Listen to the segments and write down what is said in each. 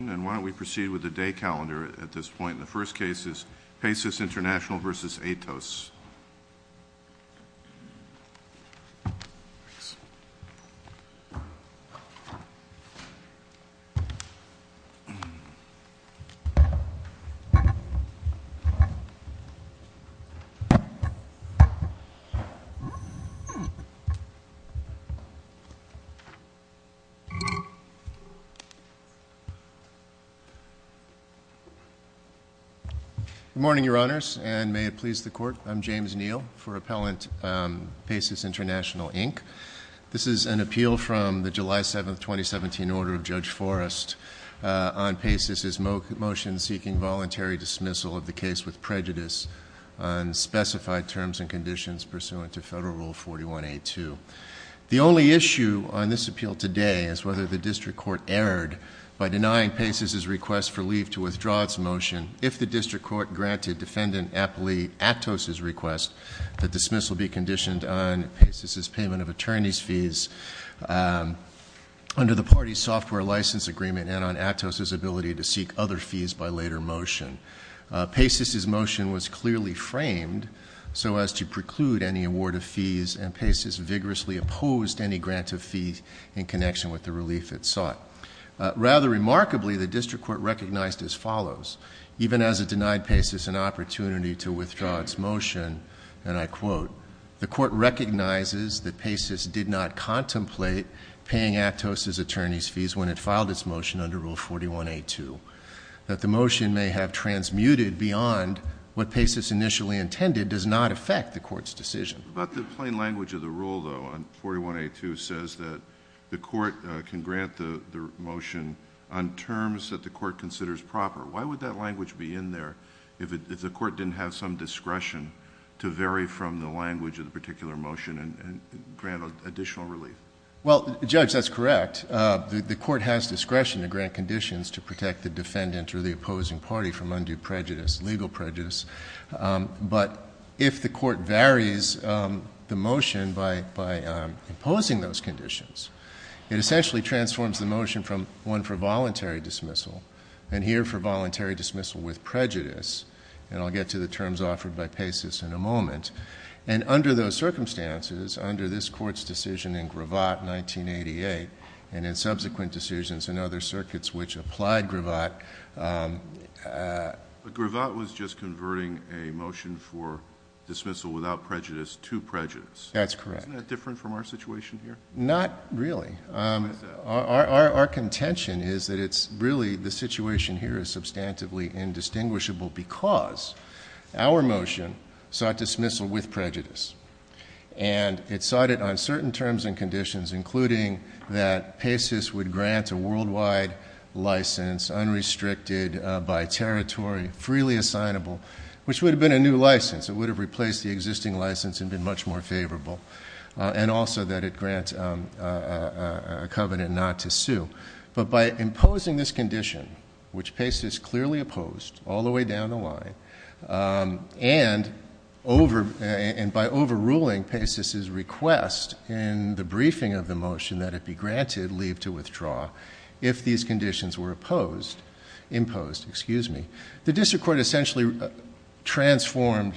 with the day calendar at this point. The first case is Paysys International v. Atos. Good morning, Your Honors, and may it please the Court, I'm James Neal for Appellant Paysys International, Inc. This is an appeal from the July 7, 2017, order of Judge Forrest on Paysys' motion seeking voluntary dismissal of the case with prejudice on specified terms and conditions pursuant to Federal Rule 41A2. The only issue on this appeal today is whether the District Court erred by denying Paysys' request for leave to withdraw its motion. If the District Court granted Defendant Atos' request, the dismissal be conditioned on Paysys' payment of attorney's fees under the party's software license agreement and on Atos' ability to seek other fees by later motion. Paysys' motion was clearly framed so as to preclude any award of fees, and Paysys vigorously opposed any grant of fees in connection with the relief it sought. Rather remarkably, the District Court recognized as follows. Even as it denied Paysys an opportunity to withdraw its motion, and I quote, the Court recognizes that Paysys did not contemplate paying Atos' attorney's fees when it filed its motion under Rule 41A2. That the motion may have transmuted beyond what Paysys initially intended does not affect the Court's decision. But the plain language of the rule, though, on 41A2 says that the Court may grant the motion on terms that the Court considers proper. Why would that language be in there if the Court didn't have some discretion to vary from the language of the particular motion and grant additional relief? Well, Judge, that's correct. The Court has discretion to grant conditions to protect the Defendant or the opposing party from undue prejudice, legal prejudice. But if the Court varies the motion by imposing those conditions, it essentially transforms the motion from one for voluntary dismissal and here for voluntary dismissal with prejudice. And I'll get to the terms offered by Paysys in a moment. And under those circumstances, under this Court's decision in Gravatt, 1988, and in subsequent decisions in other circuits which applied to Gravatt. But Gravatt was just converting a motion for dismissal without prejudice to prejudice. That's correct. Isn't that different from our situation here? Not really. Our contention is that it's really the situation here is substantively indistinguishable because our motion sought dismissal with prejudice. And it sought it on certain terms and conditions including that Paysys would grant a worldwide license unrestricted by territory, freely assignable, which would have been a new license. It would have replaced the existing license and been much more favorable. And also that it grants a covenant not to sue. But by imposing this condition, which Paysys clearly opposed all the way down the line, and by overruling Paysys' request in the briefing of the motion that it be granted leave to withdraw if these conditions were imposed, the District Court essentially transformed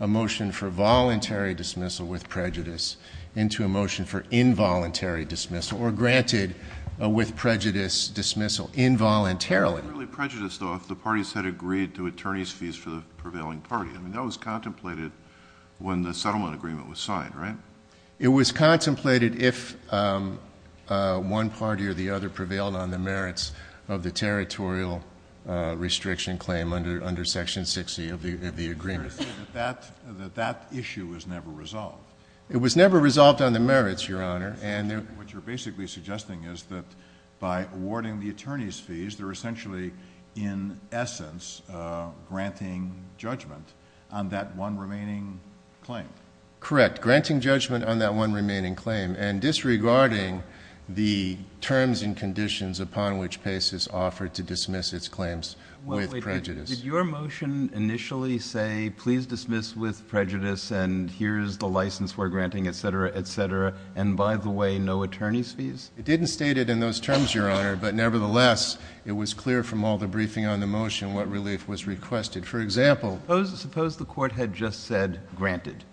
a motion for voluntary dismissal with prejudice into a motion for involuntary dismissal or granted with prejudice dismissal involuntarily. It wasn't really prejudice though if the parties had agreed to attorney's fees for the prevailing party. I mean, that was contemplated when the settlement agreement was signed, right? It was contemplated if one party or the other prevailed on the merits of the territorial restriction claim under Section 60 of the agreement. But that issue was never resolved. It was never resolved on the merits, Your Honor. What you're basically suggesting is that by awarding the attorney's fees, they're essentially in essence granting judgment on that one remaining claim. Correct. Granting judgment on that one remaining claim and disregarding the terms and conditions upon which Paysys offered to dismiss its claims with prejudice. Wait. Did your motion initially say, please dismiss with prejudice and here's the license we're granting, et cetera, et cetera, and by the way, no attorney's fees? It didn't state it in those terms, Your Honor, but nevertheless, it was clear from all the briefing on the motion what relief was requested. For example, suppose the court had just said granted,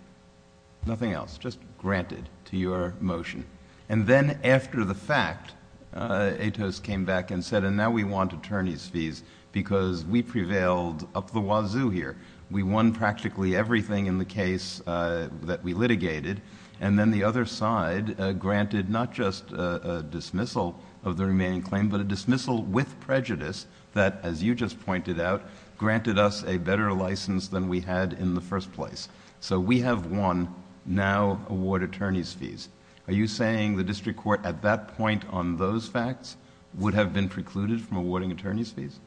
nothing else, just granted to your motion. And then after the fact, Atos came back and said, and now we want attorney's fees because we prevailed up the wazoo here. We won practically everything in the case that we litigated. And then the other side granted not just a dismissal of the remaining claim, but a dismissal with prejudice that, as you just pointed out, granted us a better license than we had in the first place. So we have won, now award attorney's fees. Are you saying the district court at that point on those facts would have been precluded from awarding attorney's fees?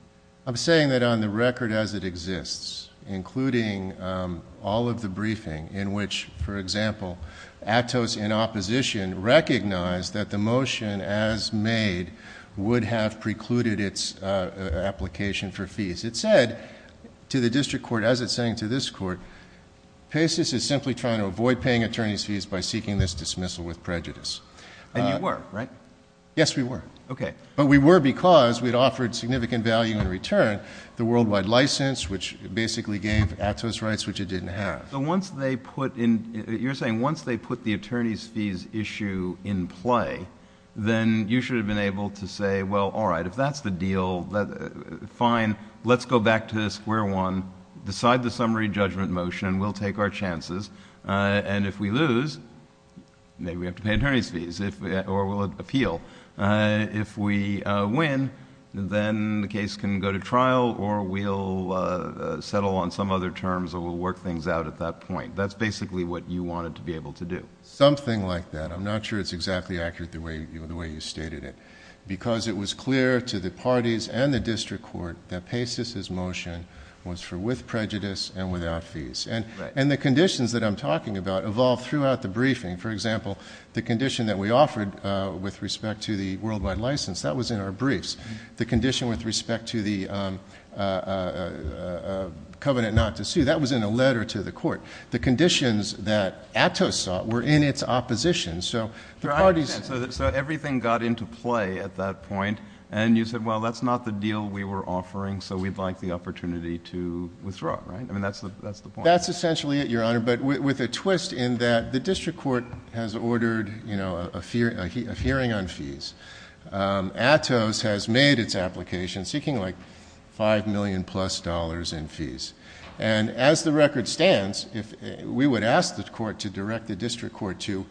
I'm saying that on the record as it exists, including all of the briefing in which, for example, Atos in opposition recognized that the motion as made would have precluded its application for fees. It said to the district court, as it's saying to this court, PASIS is simply trying to avoid paying attorney's fees by seeking this dismissal with prejudice. And you were, right? Yes, we were. Okay. But we were because we'd offered significant value in return, the worldwide license, which basically gave Atos rights, which it didn't have. So once they put in... you're saying once they put the attorney's fees issue in play, then you should have been able to say, well, all right, if that's the deal, fine, let's go back to square one, decide the summary judgment motion, we'll take our chances, and if we lose, maybe we have to pay attorney's fees or we'll appeal. If we win, then the case can go to trial or we'll settle on some other terms or we'll work things out at that point. That's basically what you wanted to be able to do. Something like that. I'm not sure it's exactly accurate the way you stated it. Because it was clear to the parties and the district court that PASIS's motion was for with prejudice and without fees. And the conditions that I'm talking about evolved throughout the briefing. For example, the condition that we offered with respect to the worldwide license, that was in our briefs. The condition with respect to the covenant not to sue, that was in a letter to the court. The conditions that ATOS sought were in its opposition. So the parties... Your Honor, I understand. So everything got into play at that point, and you said, well, that's not the deal we were offering, so we'd like the opportunity to withdraw, right? I mean, that's the point. That's essentially it, Your Honor. But with a twist in that the district court has ordered, you know, a hearing on fees. ATOS has made its application seeking like five million plus dollars in fees. And as the record stands, we would ask the court to direct the district court to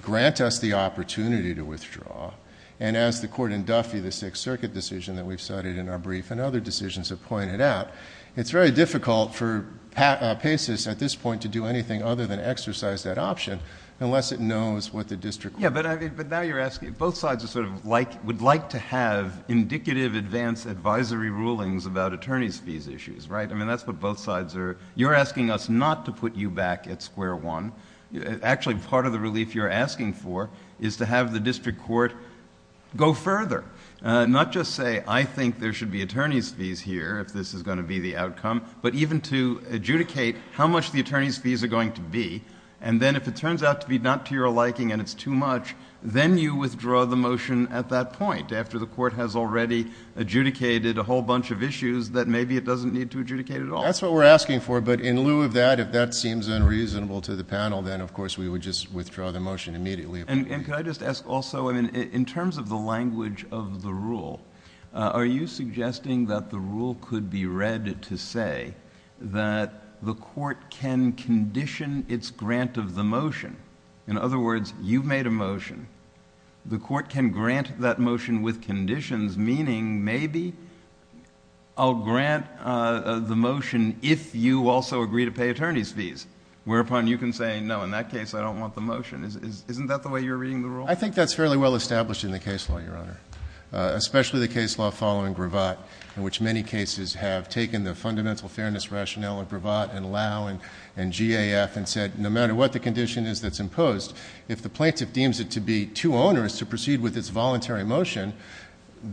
grant us the opportunity to withdraw. And as the court in Duffy, the Sixth Circuit decision that we've cited in our brief and other decisions have pointed out, it's very difficult for PASIS at this point to do anything other than exercise that option unless it knows what the district court... Yeah, but now you're asking... both sides would like to have indicative advance advisory rulings about attorney's fees issues, right? I mean, that's what both sides are... you're asking us not to put you back at square one. Actually, part of the relief you're asking for is to have the district court go further. Not just say, I think there should be attorney's fees here if this is going to be the outcome, but even to adjudicate how much the attorney's fees are going to be. And then if it turns out to be not to your liking and it's too much, then you withdraw the motion at that point, after the court has already adjudicated a whole bunch of issues that maybe it doesn't need to adjudicate at all. That's what we're asking for, but in lieu of that, if that seems unreasonable to the panel, then of course we would just withdraw the motion immediately. And could I just ask also, in terms of the language of the rule, are you suggesting that the rule could be read to say that the court can condition its grant of the motion? In other words, you've made a motion. The court can grant that motion with conditions, meaning maybe I'll grant the motion if you also agree to pay attorney's fees, whereupon you can say, no, in that case I don't want the motion. Isn't that the way you're reading the rule? I think that's fairly well established in the case law, Your Honor, especially the case law following Gravatt, in which many cases have taken the fundamental fairness rationale of Gravatt and Lau and GAF and said, no matter what the condition is that's imposed, if the plaintiff deems it to be too onerous to proceed with its voluntary motion,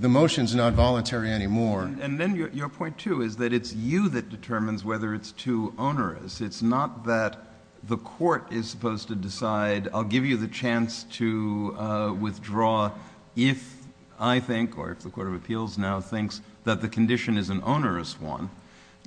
the motion's not voluntary anymore. And then your point, too, is that it's you that determines whether it's too onerous. It's not that the court is supposed to decide, I'll give you the chance to withdraw if I now thinks that the condition is an onerous one.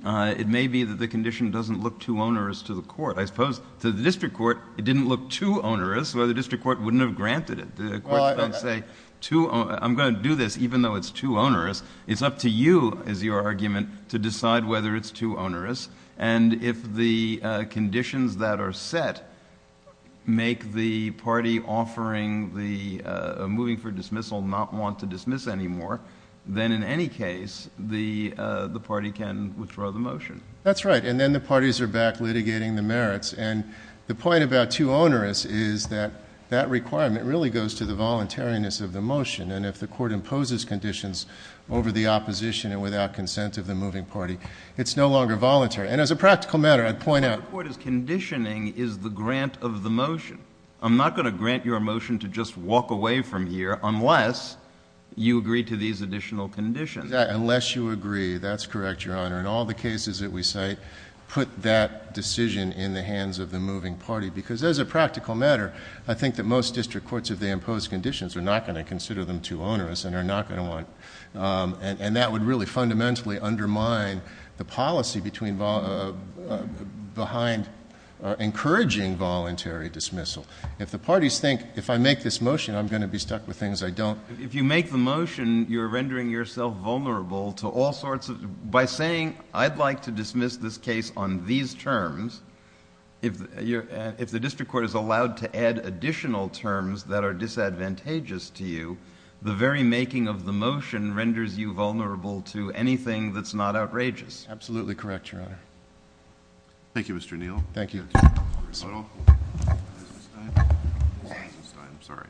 It may be that the condition doesn't look too onerous to the court. I suppose to the district court, it didn't look too onerous, so the district court wouldn't have granted it. The court can't say, I'm going to do this even though it's too onerous. It's up to you, is your argument, to decide whether it's too onerous. And if the conditions that are set make the party offering the... moving for dismissal not want to dismiss anymore, then in any case, the party can withdraw the motion. That's right. And then the parties are back litigating the merits. And the point about too onerous is that that requirement really goes to the voluntariness of the motion. And if the court imposes conditions over the opposition and without consent of the moving party, it's no longer voluntary. And as a practical matter, I'd point out... But the court is conditioning is the grant of the motion. I'm not going to grant your motion to just walk away from here unless you agree to these additional conditions. Unless you agree. That's correct, Your Honor. And all the cases that we cite put that decision in the hands of the moving party. Because as a practical matter, I think that most district courts, if they impose conditions, are not going to consider them too onerous and are not going to want... and that would really fundamentally undermine the policy behind encouraging voluntary dismissal. If the parties think, if I make this motion, I'm going to be stuck with things I don't... If you make the motion, you're rendering yourself vulnerable to all sorts of... by saying, I'd like to dismiss this case on these terms, if the district court is allowed to add additional terms that are disadvantageous to you, the very making of the motion renders you vulnerable to anything that's not outrageous. Absolutely correct, Your Honor. Thank you, Mr. Neal. Thank you. Ms. Eisenstein. Ms. Eisenstein. I'm sorry.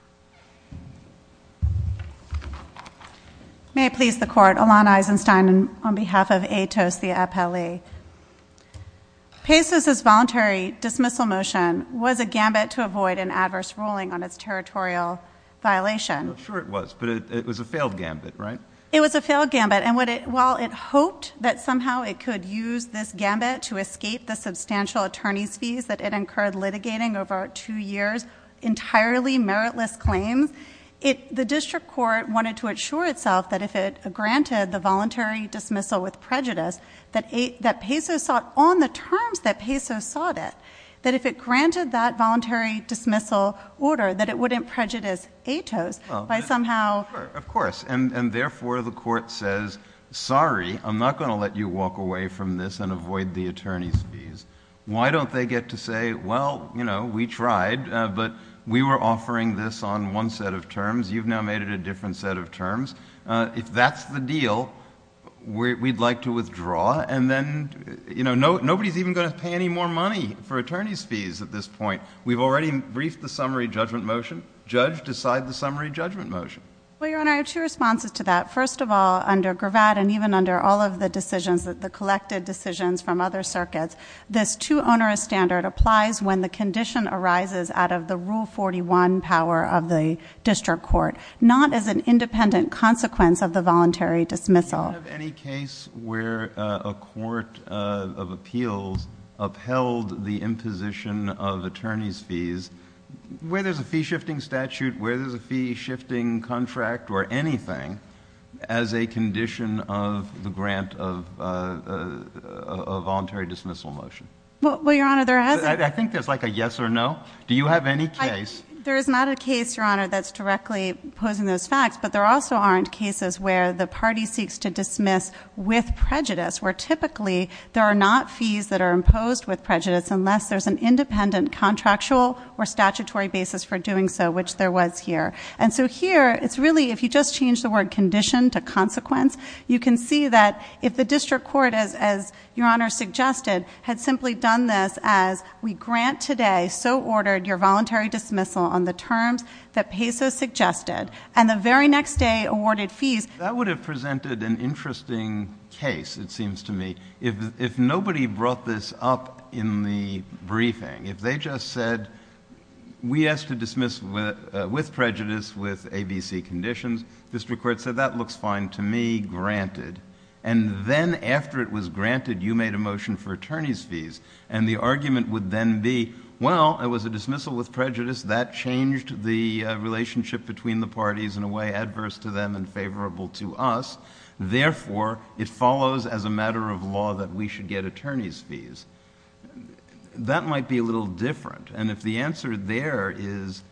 May it please the Court, Alana Eisenstein on behalf of AITOS, the APELE. PACE's voluntary dismissal motion was a gambit to avoid an adverse ruling on its territorial violation. I'm not sure it was, but it was a failed gambit, right? It was a failed gambit, and while it hoped that somehow it could use this gambit to escape the substantial attorney's fees that it incurred litigating over two years, entirely meritless claims, the district court wanted to assure itself that if it granted the voluntary dismissal with prejudice that PACE sought on the terms that PACE sought it, that if it granted that voluntary dismissal order, that it wouldn't prejudice AITOS by somehow... Sure, of course, and therefore the Court says, sorry, I'm not going to let you walk away from this and avoid the attorney's fees. Why don't they get to say, well, you know, we tried, but we were offering this on one set of terms. You've now made it a different set of terms. If that's the deal, we'd like to withdraw, and then, you know, nobody's even going to pay any more money for attorney's fees at this point. We've already briefed the summary judgment motion. Judge, decide the summary judgment motion. Well, Your Honor, I have two responses to that. First of all, under Gravatt and even under all of the decisions, the collected decisions from other circuits, this two-ownerist standard applies when the condition arises out of the independent consequence of the voluntary dismissal. Do you have any case where a court of appeals upheld the imposition of attorney's fees, where there's a fee-shifting statute, where there's a fee-shifting contract, or anything, as a condition of the grant of a voluntary dismissal motion? Well, Your Honor, there hasn't... I think there's like a yes or no. Do you have any case... There is not a case, Your Honor, that's directly posing those facts, but there also aren't cases where the party seeks to dismiss with prejudice, where typically there are not fees that are imposed with prejudice unless there's an independent contractual or statutory basis for doing so, which there was here. And so here, it's really, if you just change the word condition to consequence, you can see that if the district court, as Your Honor suggested, had simply done this as, we grant today, so ordered your voluntary dismissal on the terms that Peso suggested, and the very next day awarded fees... That would have presented an interesting case, it seems to me. If nobody brought this up in the briefing, if they just said, we ask to dismiss with prejudice with ABC conditions, district court said, that looks fine to me, granted. And then after it was granted, you made a motion for attorney's fees, and the argument would then be, well, it was a dismissal with prejudice, that changed the relationship between the parties in a way adverse to them and favorable to us, therefore, it follows as a matter of law that we should get attorney's fees. That might be a little different, and if the answer there is,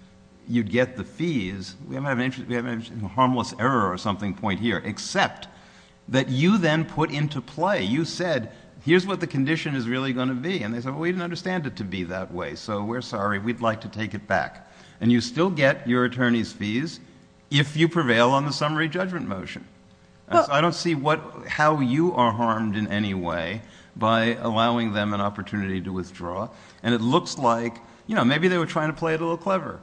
you'd get the fees, we haven't had an interest... we haven't had a harmless error or something point here, except that you then put into play, you said, here's what the condition is really going to be. And they said, well, we didn't understand it to be that way, so we're sorry, we'd like to take it back. And you still get your attorney's fees if you prevail on the summary judgment motion. I don't see how you are harmed in any way by allowing them an opportunity to withdraw, and it looks like, you know, maybe they were trying to play it a little clever.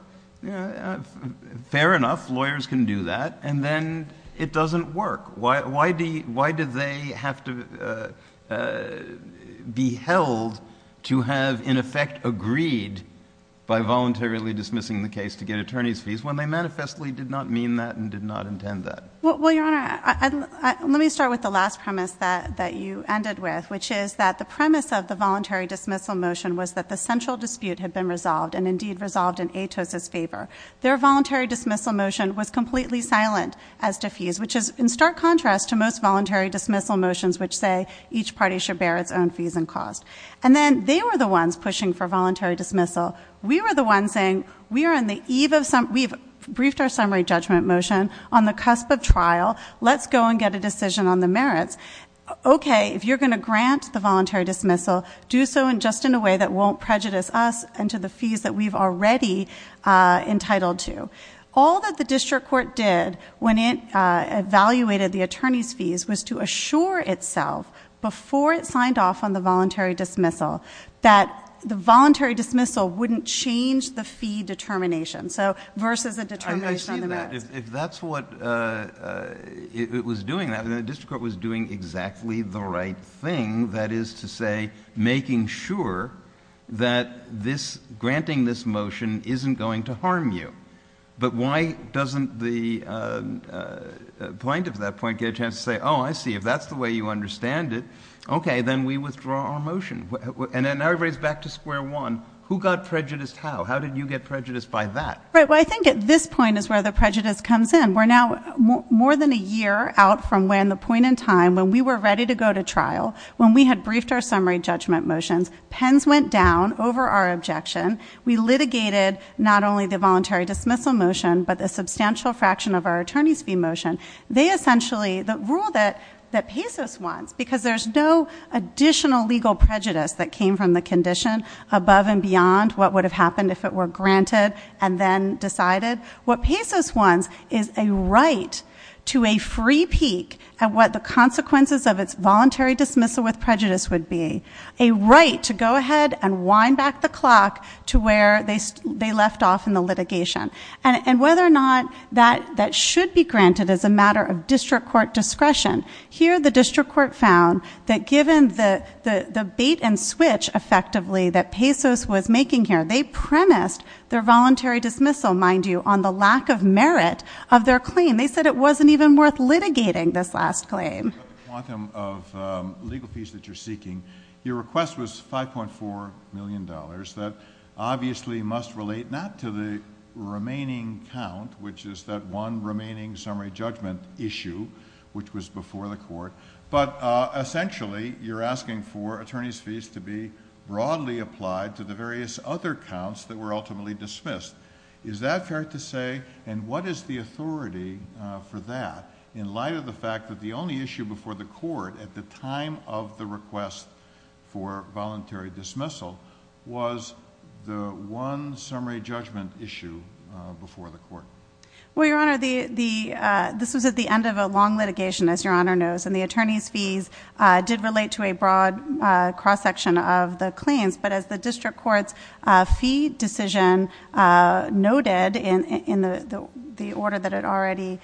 Fair enough, lawyers can do that, and then it doesn't work. Why do they have to be held to have, in effect, agreed by voluntarily dismissing the case to get attorney's fees when they manifestly did not mean that and did not intend that? Well, Your Honor, let me start with the last premise that you ended with, which is that the premise of the voluntary dismissal motion was that the central dispute had been resolved and indeed resolved in Atos' favor. Their voluntary dismissal motion was completely silent as to fees, which is in stark contrast to most voluntary dismissal motions which say each party should bear its own fees and cost. And then they were the ones pushing for voluntary dismissal. We were the ones saying, we've briefed our summary judgment motion on the cusp of trial. Let's go and get a decision on the merits. Okay, if you're going to grant the voluntary dismissal, do so just in a way that won't prejudice us and won't go into the fees that we've already entitled to. All that the district court did when it evaluated the attorney's fees was to assure itself before it signed off on the voluntary dismissal that the voluntary dismissal wouldn't change the fee determination. So, versus a determination on the merits. I see that. If that's what it was doing, then the district court was doing exactly the right thing. That is to say, making sure that granting this motion isn't going to harm you. But why doesn't the plaintiff at that point get a chance to say, I see. If that's the way you understand it, okay, then we withdraw our motion. And then everybody's back to square one. Who got prejudiced how? How did you get prejudiced by that? Right, well I think at this point is where the prejudice comes in. And we're now more than a year out from when the point in time when we were ready to go to trial, when we had briefed our summary judgment motions, pens went down over our objection. We litigated not only the voluntary dismissal motion, but the substantial fraction of our attorney's fee motion. They essentially, the rule that pesos wants, because there's no additional legal prejudice that came from the condition. Above and beyond what would have happened if it were granted and then decided. What pesos wants is a right to a free peek at what the consequences of its voluntary dismissal with prejudice would be. A right to go ahead and wind back the clock to where they left off in the litigation. And whether or not that should be granted as a matter of district court discretion. Here the district court found that given the bait and switch effectively that pesos was making here. They premised their voluntary dismissal, mind you, on the lack of merit of their claim. They said it wasn't even worth litigating this last claim. Quantum of legal fees that you're seeking. Your request was $5.4 million that obviously must relate not to the remaining count, which is that one remaining summary judgment issue, which was before the court. But essentially, you're asking for attorney's fees to be broadly applied to the various other counts that were ultimately dismissed. Is that fair to say, and what is the authority for that, in light of the fact that the only issue before the court at the time of the request for voluntary dismissal was the one summary judgment issue before the court? Well, your honor, this was at the end of a long litigation, as your honor knows. And the attorney's fees did relate to a broad cross section of the claims. But as the district court's fee decision noted in the order that it already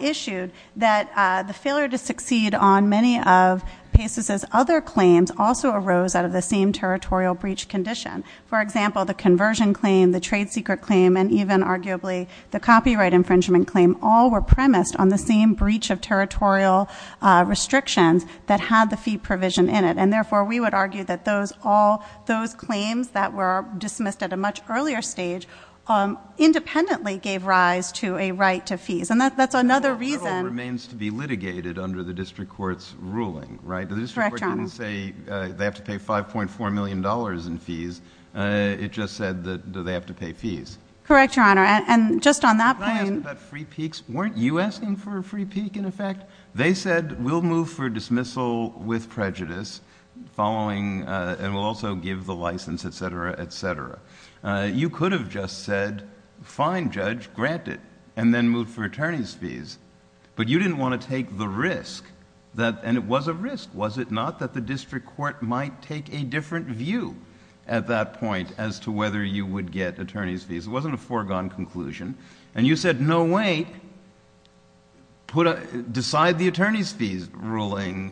issued that the failure to succeed on many of pesos' other claims also arose out of the same territorial breach condition. For example, the conversion claim, the trade secret claim, and even arguably the copyright infringement claim, all were premised on the same breach of territorial restrictions that had the fee provision in it. And therefore, we would argue that those claims that were dismissed at a much earlier stage, independently gave rise to a right to fees. And that's another reason- The title remains to be litigated under the district court's ruling, right? Correct, your honor. I didn't say they have to pay $5.4 million in fees, it just said that they have to pay fees. Correct, your honor. And just on that point- Can I ask about free peaks? Weren't you asking for a free peak, in effect? They said, we'll move for dismissal with prejudice, following, and we'll also give the license, etc., etc. You could have just said, fine, judge, grant it, and then move for attorney's fees. Was it not that the district court might take a different view at that point as to whether you would get attorney's fees? It wasn't a foregone conclusion. And you said, no wait, decide the attorney's fees ruling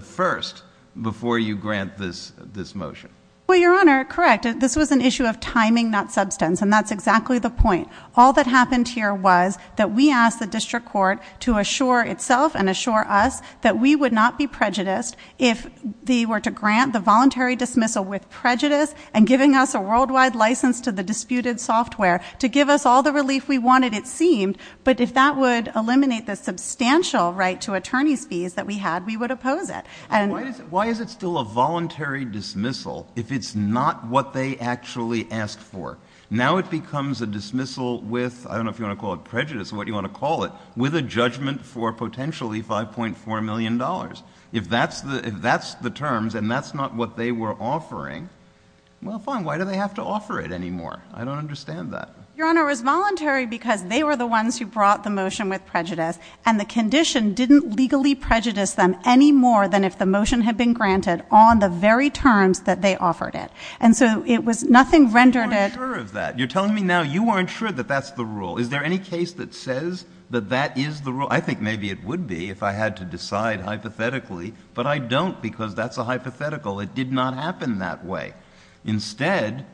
first before you grant this motion. Well, your honor, correct. This was an issue of timing, not substance. And that's exactly the point. All that happened here was that we asked the district court to assure itself and assure us that we would not be prejudiced if they were to grant the voluntary dismissal with prejudice. And giving us a worldwide license to the disputed software to give us all the relief we wanted, it seemed. But if that would eliminate the substantial right to attorney's fees that we had, we would oppose it. Why is it still a voluntary dismissal if it's not what they actually asked for? Now it becomes a dismissal with, I don't know if you want to call it prejudice or what you want to call it, with a judgment for potentially $5.4 million. If that's the terms and that's not what they were offering, well fine, why do they have to offer it anymore? I don't understand that. Your honor, it was voluntary because they were the ones who brought the motion with prejudice. And the condition didn't legally prejudice them any more than if the motion had been granted on the very terms that they offered it. And so it was nothing rendered at- You're not sure of that. You're telling me now you weren't sure that that's the rule. Is there any case that says that that is the rule? I think maybe it would be if I had to decide hypothetically, but I don't because that's a hypothetical. It did not happen that way. Instead,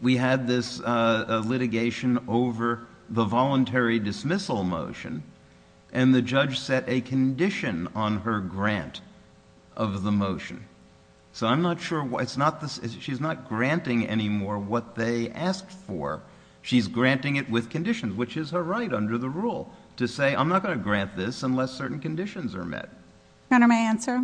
we had this litigation over the voluntary dismissal motion. And the judge set a condition on her grant of the motion. So I'm not sure, she's not granting anymore what they asked for. She's granting it with conditions, which is her right under the rule to say, I'm not going to grant this unless certain conditions are met. Your honor, may I answer?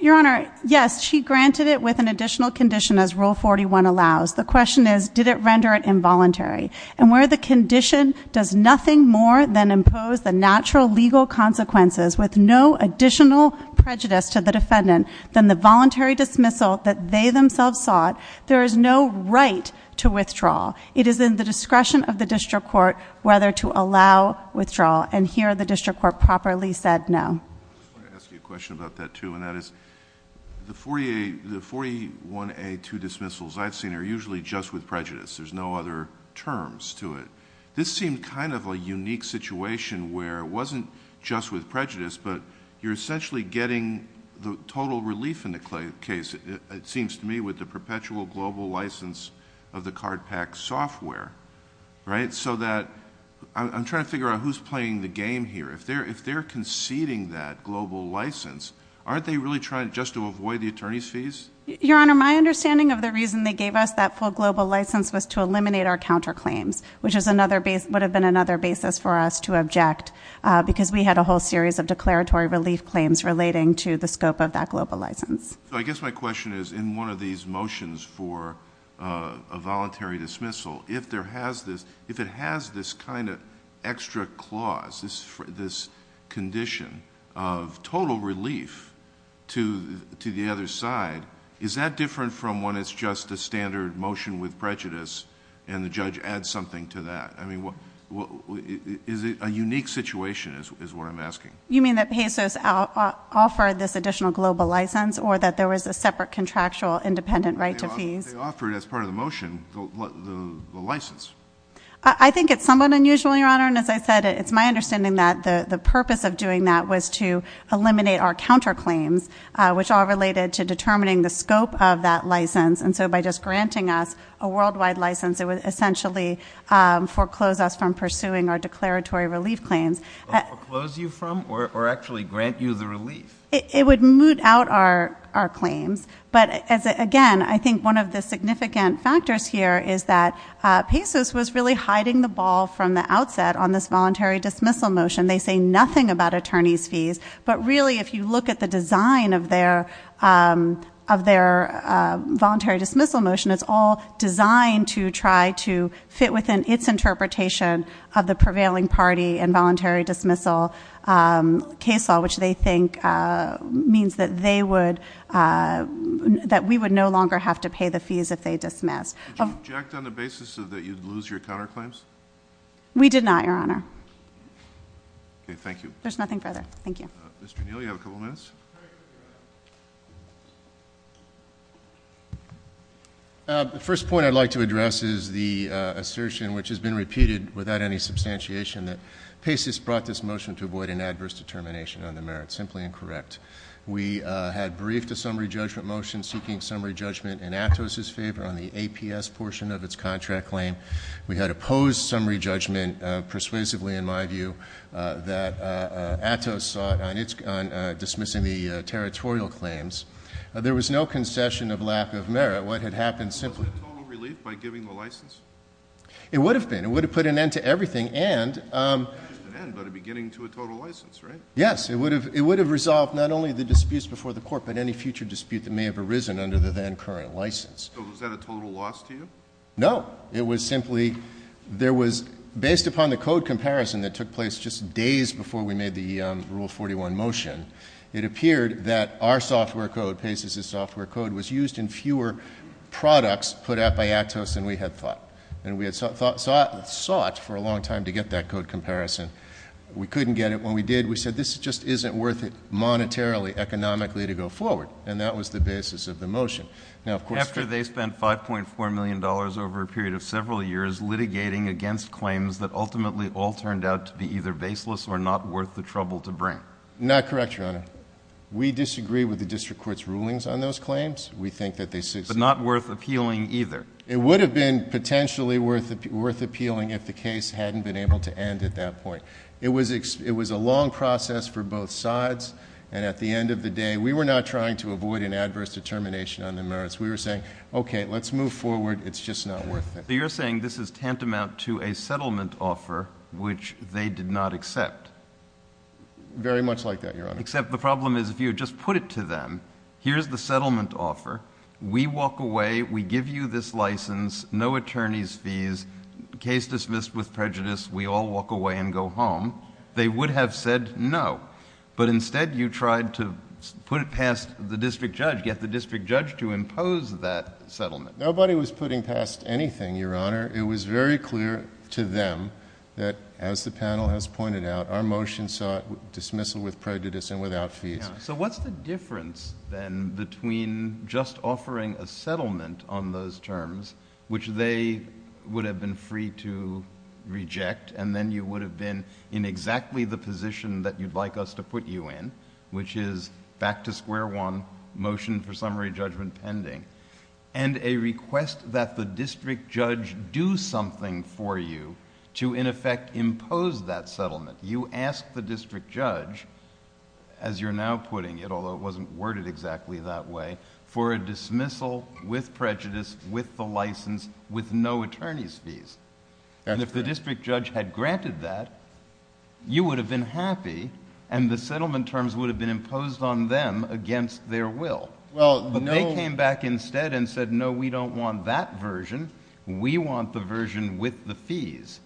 Your honor, yes, she granted it with an additional condition as rule 41 allows. The question is, did it render it involuntary? And where the condition does nothing more than impose the natural legal consequences with no additional prejudice to the defendant than the voluntary dismissal that they themselves sought. There is no right to withdraw. It is in the discretion of the district court whether to allow withdrawal. And here the district court properly said no. I just want to ask you a question about that too, and that is the 41A2 dismissals I've seen are usually just with prejudice. There's no other terms to it. This seemed kind of a unique situation where it wasn't just with prejudice, but you're essentially getting the total relief in the case, it seems to me, with the perpetual global license of the card pack software, right? So that, I'm trying to figure out who's playing the game here. If they're conceding that global license, aren't they really trying just to avoid the attorney's fees? Your Honor, my understanding of the reason they gave us that full global license was to eliminate our counter claims, which would have been another basis for us to object because we had a whole series of declaratory relief claims relating to the scope of that global license. I guess my question is, in one of these motions for a voluntary dismissal, if it has this kind of extra clause, this condition of total relief to the other side, is that different from when it's just a standard motion with prejudice and the judge adds something to that? I mean, is it a unique situation is what I'm asking. You mean that pesos offer this additional global license, or that there was a separate contractual independent right to fees? They offer it as part of the motion, the license. I think it's somewhat unusual, Your Honor, and as I said, it's my understanding that the purpose of doing that was to eliminate our counter claims, which are related to determining the scope of that license, and so by just granting us a worldwide license, it would essentially foreclose us from pursuing our declaratory relief claims. Foreclose you from, or actually grant you the relief? It would moot out our claims. But again, I think one of the significant factors here is that pesos was really hiding the ball from the outset on this voluntary dismissal motion. They say nothing about attorney's fees. But really, if you look at the design of their voluntary dismissal motion, it's all designed to try to fit within its interpretation of the prevailing party and voluntary dismissal case law, which they think means that they would that we would no longer have to pay the fees if they dismissed. Did you object on the basis that you'd lose your counter claims? We did not, Your Honor. Okay, thank you. There's nothing further. Thank you. Mr. Neal, you have a couple minutes? The first point I'd like to address is the assertion, which has been repeated without any substantiation, that pesos brought this motion to avoid an adverse determination on the merits, simply incorrect. We had briefed a summary judgment motion seeking summary judgment in Atos' favor on the APS portion of its contract claim. We had opposed summary judgment persuasively, in my view, that Atos sought on dismissing the territorial claims. There was no concession of lack of merit. What had happened simply- Was it a total relief by giving the license? It would have been. It would have put an end to everything and- Not just an end, but a beginning to a total license, right? Yes, it would have resolved not only the disputes before the court, but any future dispute that may have arisen under the then current license. So was that a total loss to you? No, it was simply, there was, based upon the code comparison that took place just days before we made the Rule 41 motion, it appeared that our software code, Pesos' software code, was used in fewer products put out by Atos than we had thought. And we had sought for a long time to get that code comparison. We couldn't get it. When we did, we said, this just isn't worth it monetarily, economically, to go forward. And that was the basis of the motion. Now, of course- After they spent $5.4 million over a period of several years litigating against claims that ultimately all turned out to be either baseless or not worth the trouble to bring. Not correct, Your Honor. We disagree with the district court's rulings on those claims. We think that they- But not worth appealing either. It would have been potentially worth appealing if the case hadn't been able to end at that point. It was a long process for both sides. And at the end of the day, we were not trying to avoid an adverse determination on the merits. We were saying, okay, let's move forward. It's just not worth it. You're saying this is tantamount to a settlement offer, which they did not accept. Very much like that, Your Honor. Except the problem is, if you had just put it to them, here's the settlement offer. We walk away, we give you this license, no attorney's fees, case dismissed with prejudice, we all walk away and go home. They would have said no. But instead, you tried to put it past the district judge, get the district judge to impose that settlement. Nobody was putting past anything, Your Honor. It was very clear to them that, as the panel has pointed out, our motion sought dismissal with prejudice and without fees. So what's the difference then between just offering a settlement on those terms, which they would have been free to reject, and then you would have been in exactly the position that you'd like us to put you in, which is back to square one, motion for summary judgment pending. And a request that the district judge do something for you to, in effect, impose that settlement. You ask the district judge, as you're now putting it, although it wasn't worded exactly that way, for a dismissal with prejudice, with the license, with no attorney's fees. And if the district judge had granted that, you would have been happy, and the settlement terms would have been imposed on them against their will. But they came back instead and said, no, we don't want that version, we want the version with the fees.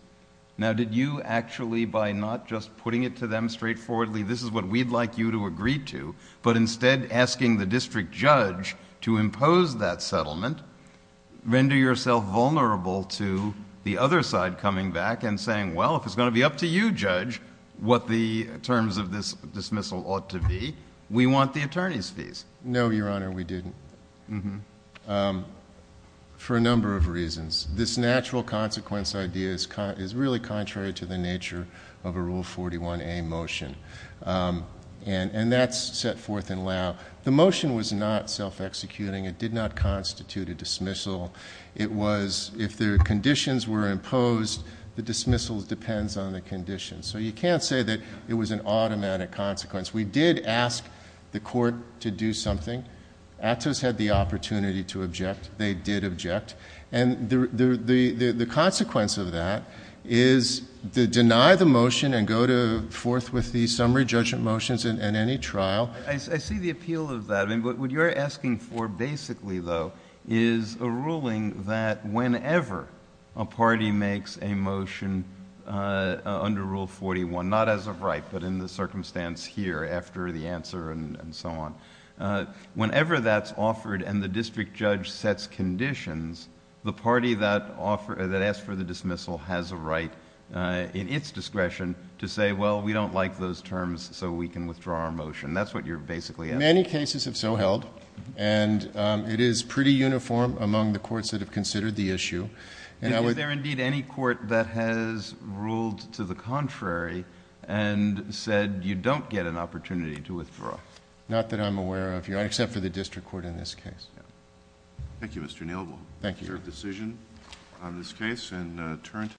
Now did you actually, by not just putting it to them straightforwardly, this is what we'd like you to agree to, but instead asking the district judge to impose that settlement, render yourself vulnerable to the other side coming back and saying, well, if it's going to be up to you, judge, what the terms of this dismissal ought to be, we want the attorney's fees. No, Your Honor, we didn't, for a number of reasons. This natural consequence idea is really contrary to the nature of a Rule 41A motion. And that's set forth in law. The motion was not self-executing. It did not constitute a dismissal. It was, if the conditions were imposed, the dismissal depends on the conditions. So you can't say that it was an automatic consequence. We did ask the court to do something. Atos had the opportunity to object. They did object. And the consequence of that is to deny the motion and go forth with the summary judgment motions in any trial. I see the appeal of that. I mean, what you're asking for basically, though, is a ruling that whenever a party makes a motion under Rule 41, not as of right, but in the circumstance here after the answer and so on, whenever that's offered and the district judge sets conditions, the party that asked for the dismissal has a right in its discretion to say, well, we don't like those terms, so we can withdraw our motion. That's what you're basically asking. Many cases have so held. And it is pretty uniform among the courts that have considered the issue. Is there indeed any court that has ruled to the contrary and said you don't get an opportunity to withdraw? Not that I'm aware of, Your Honor, except for the district court in this case. Thank you, Mr. Neal. Thank you. Is there a decision on this case in Tarrant?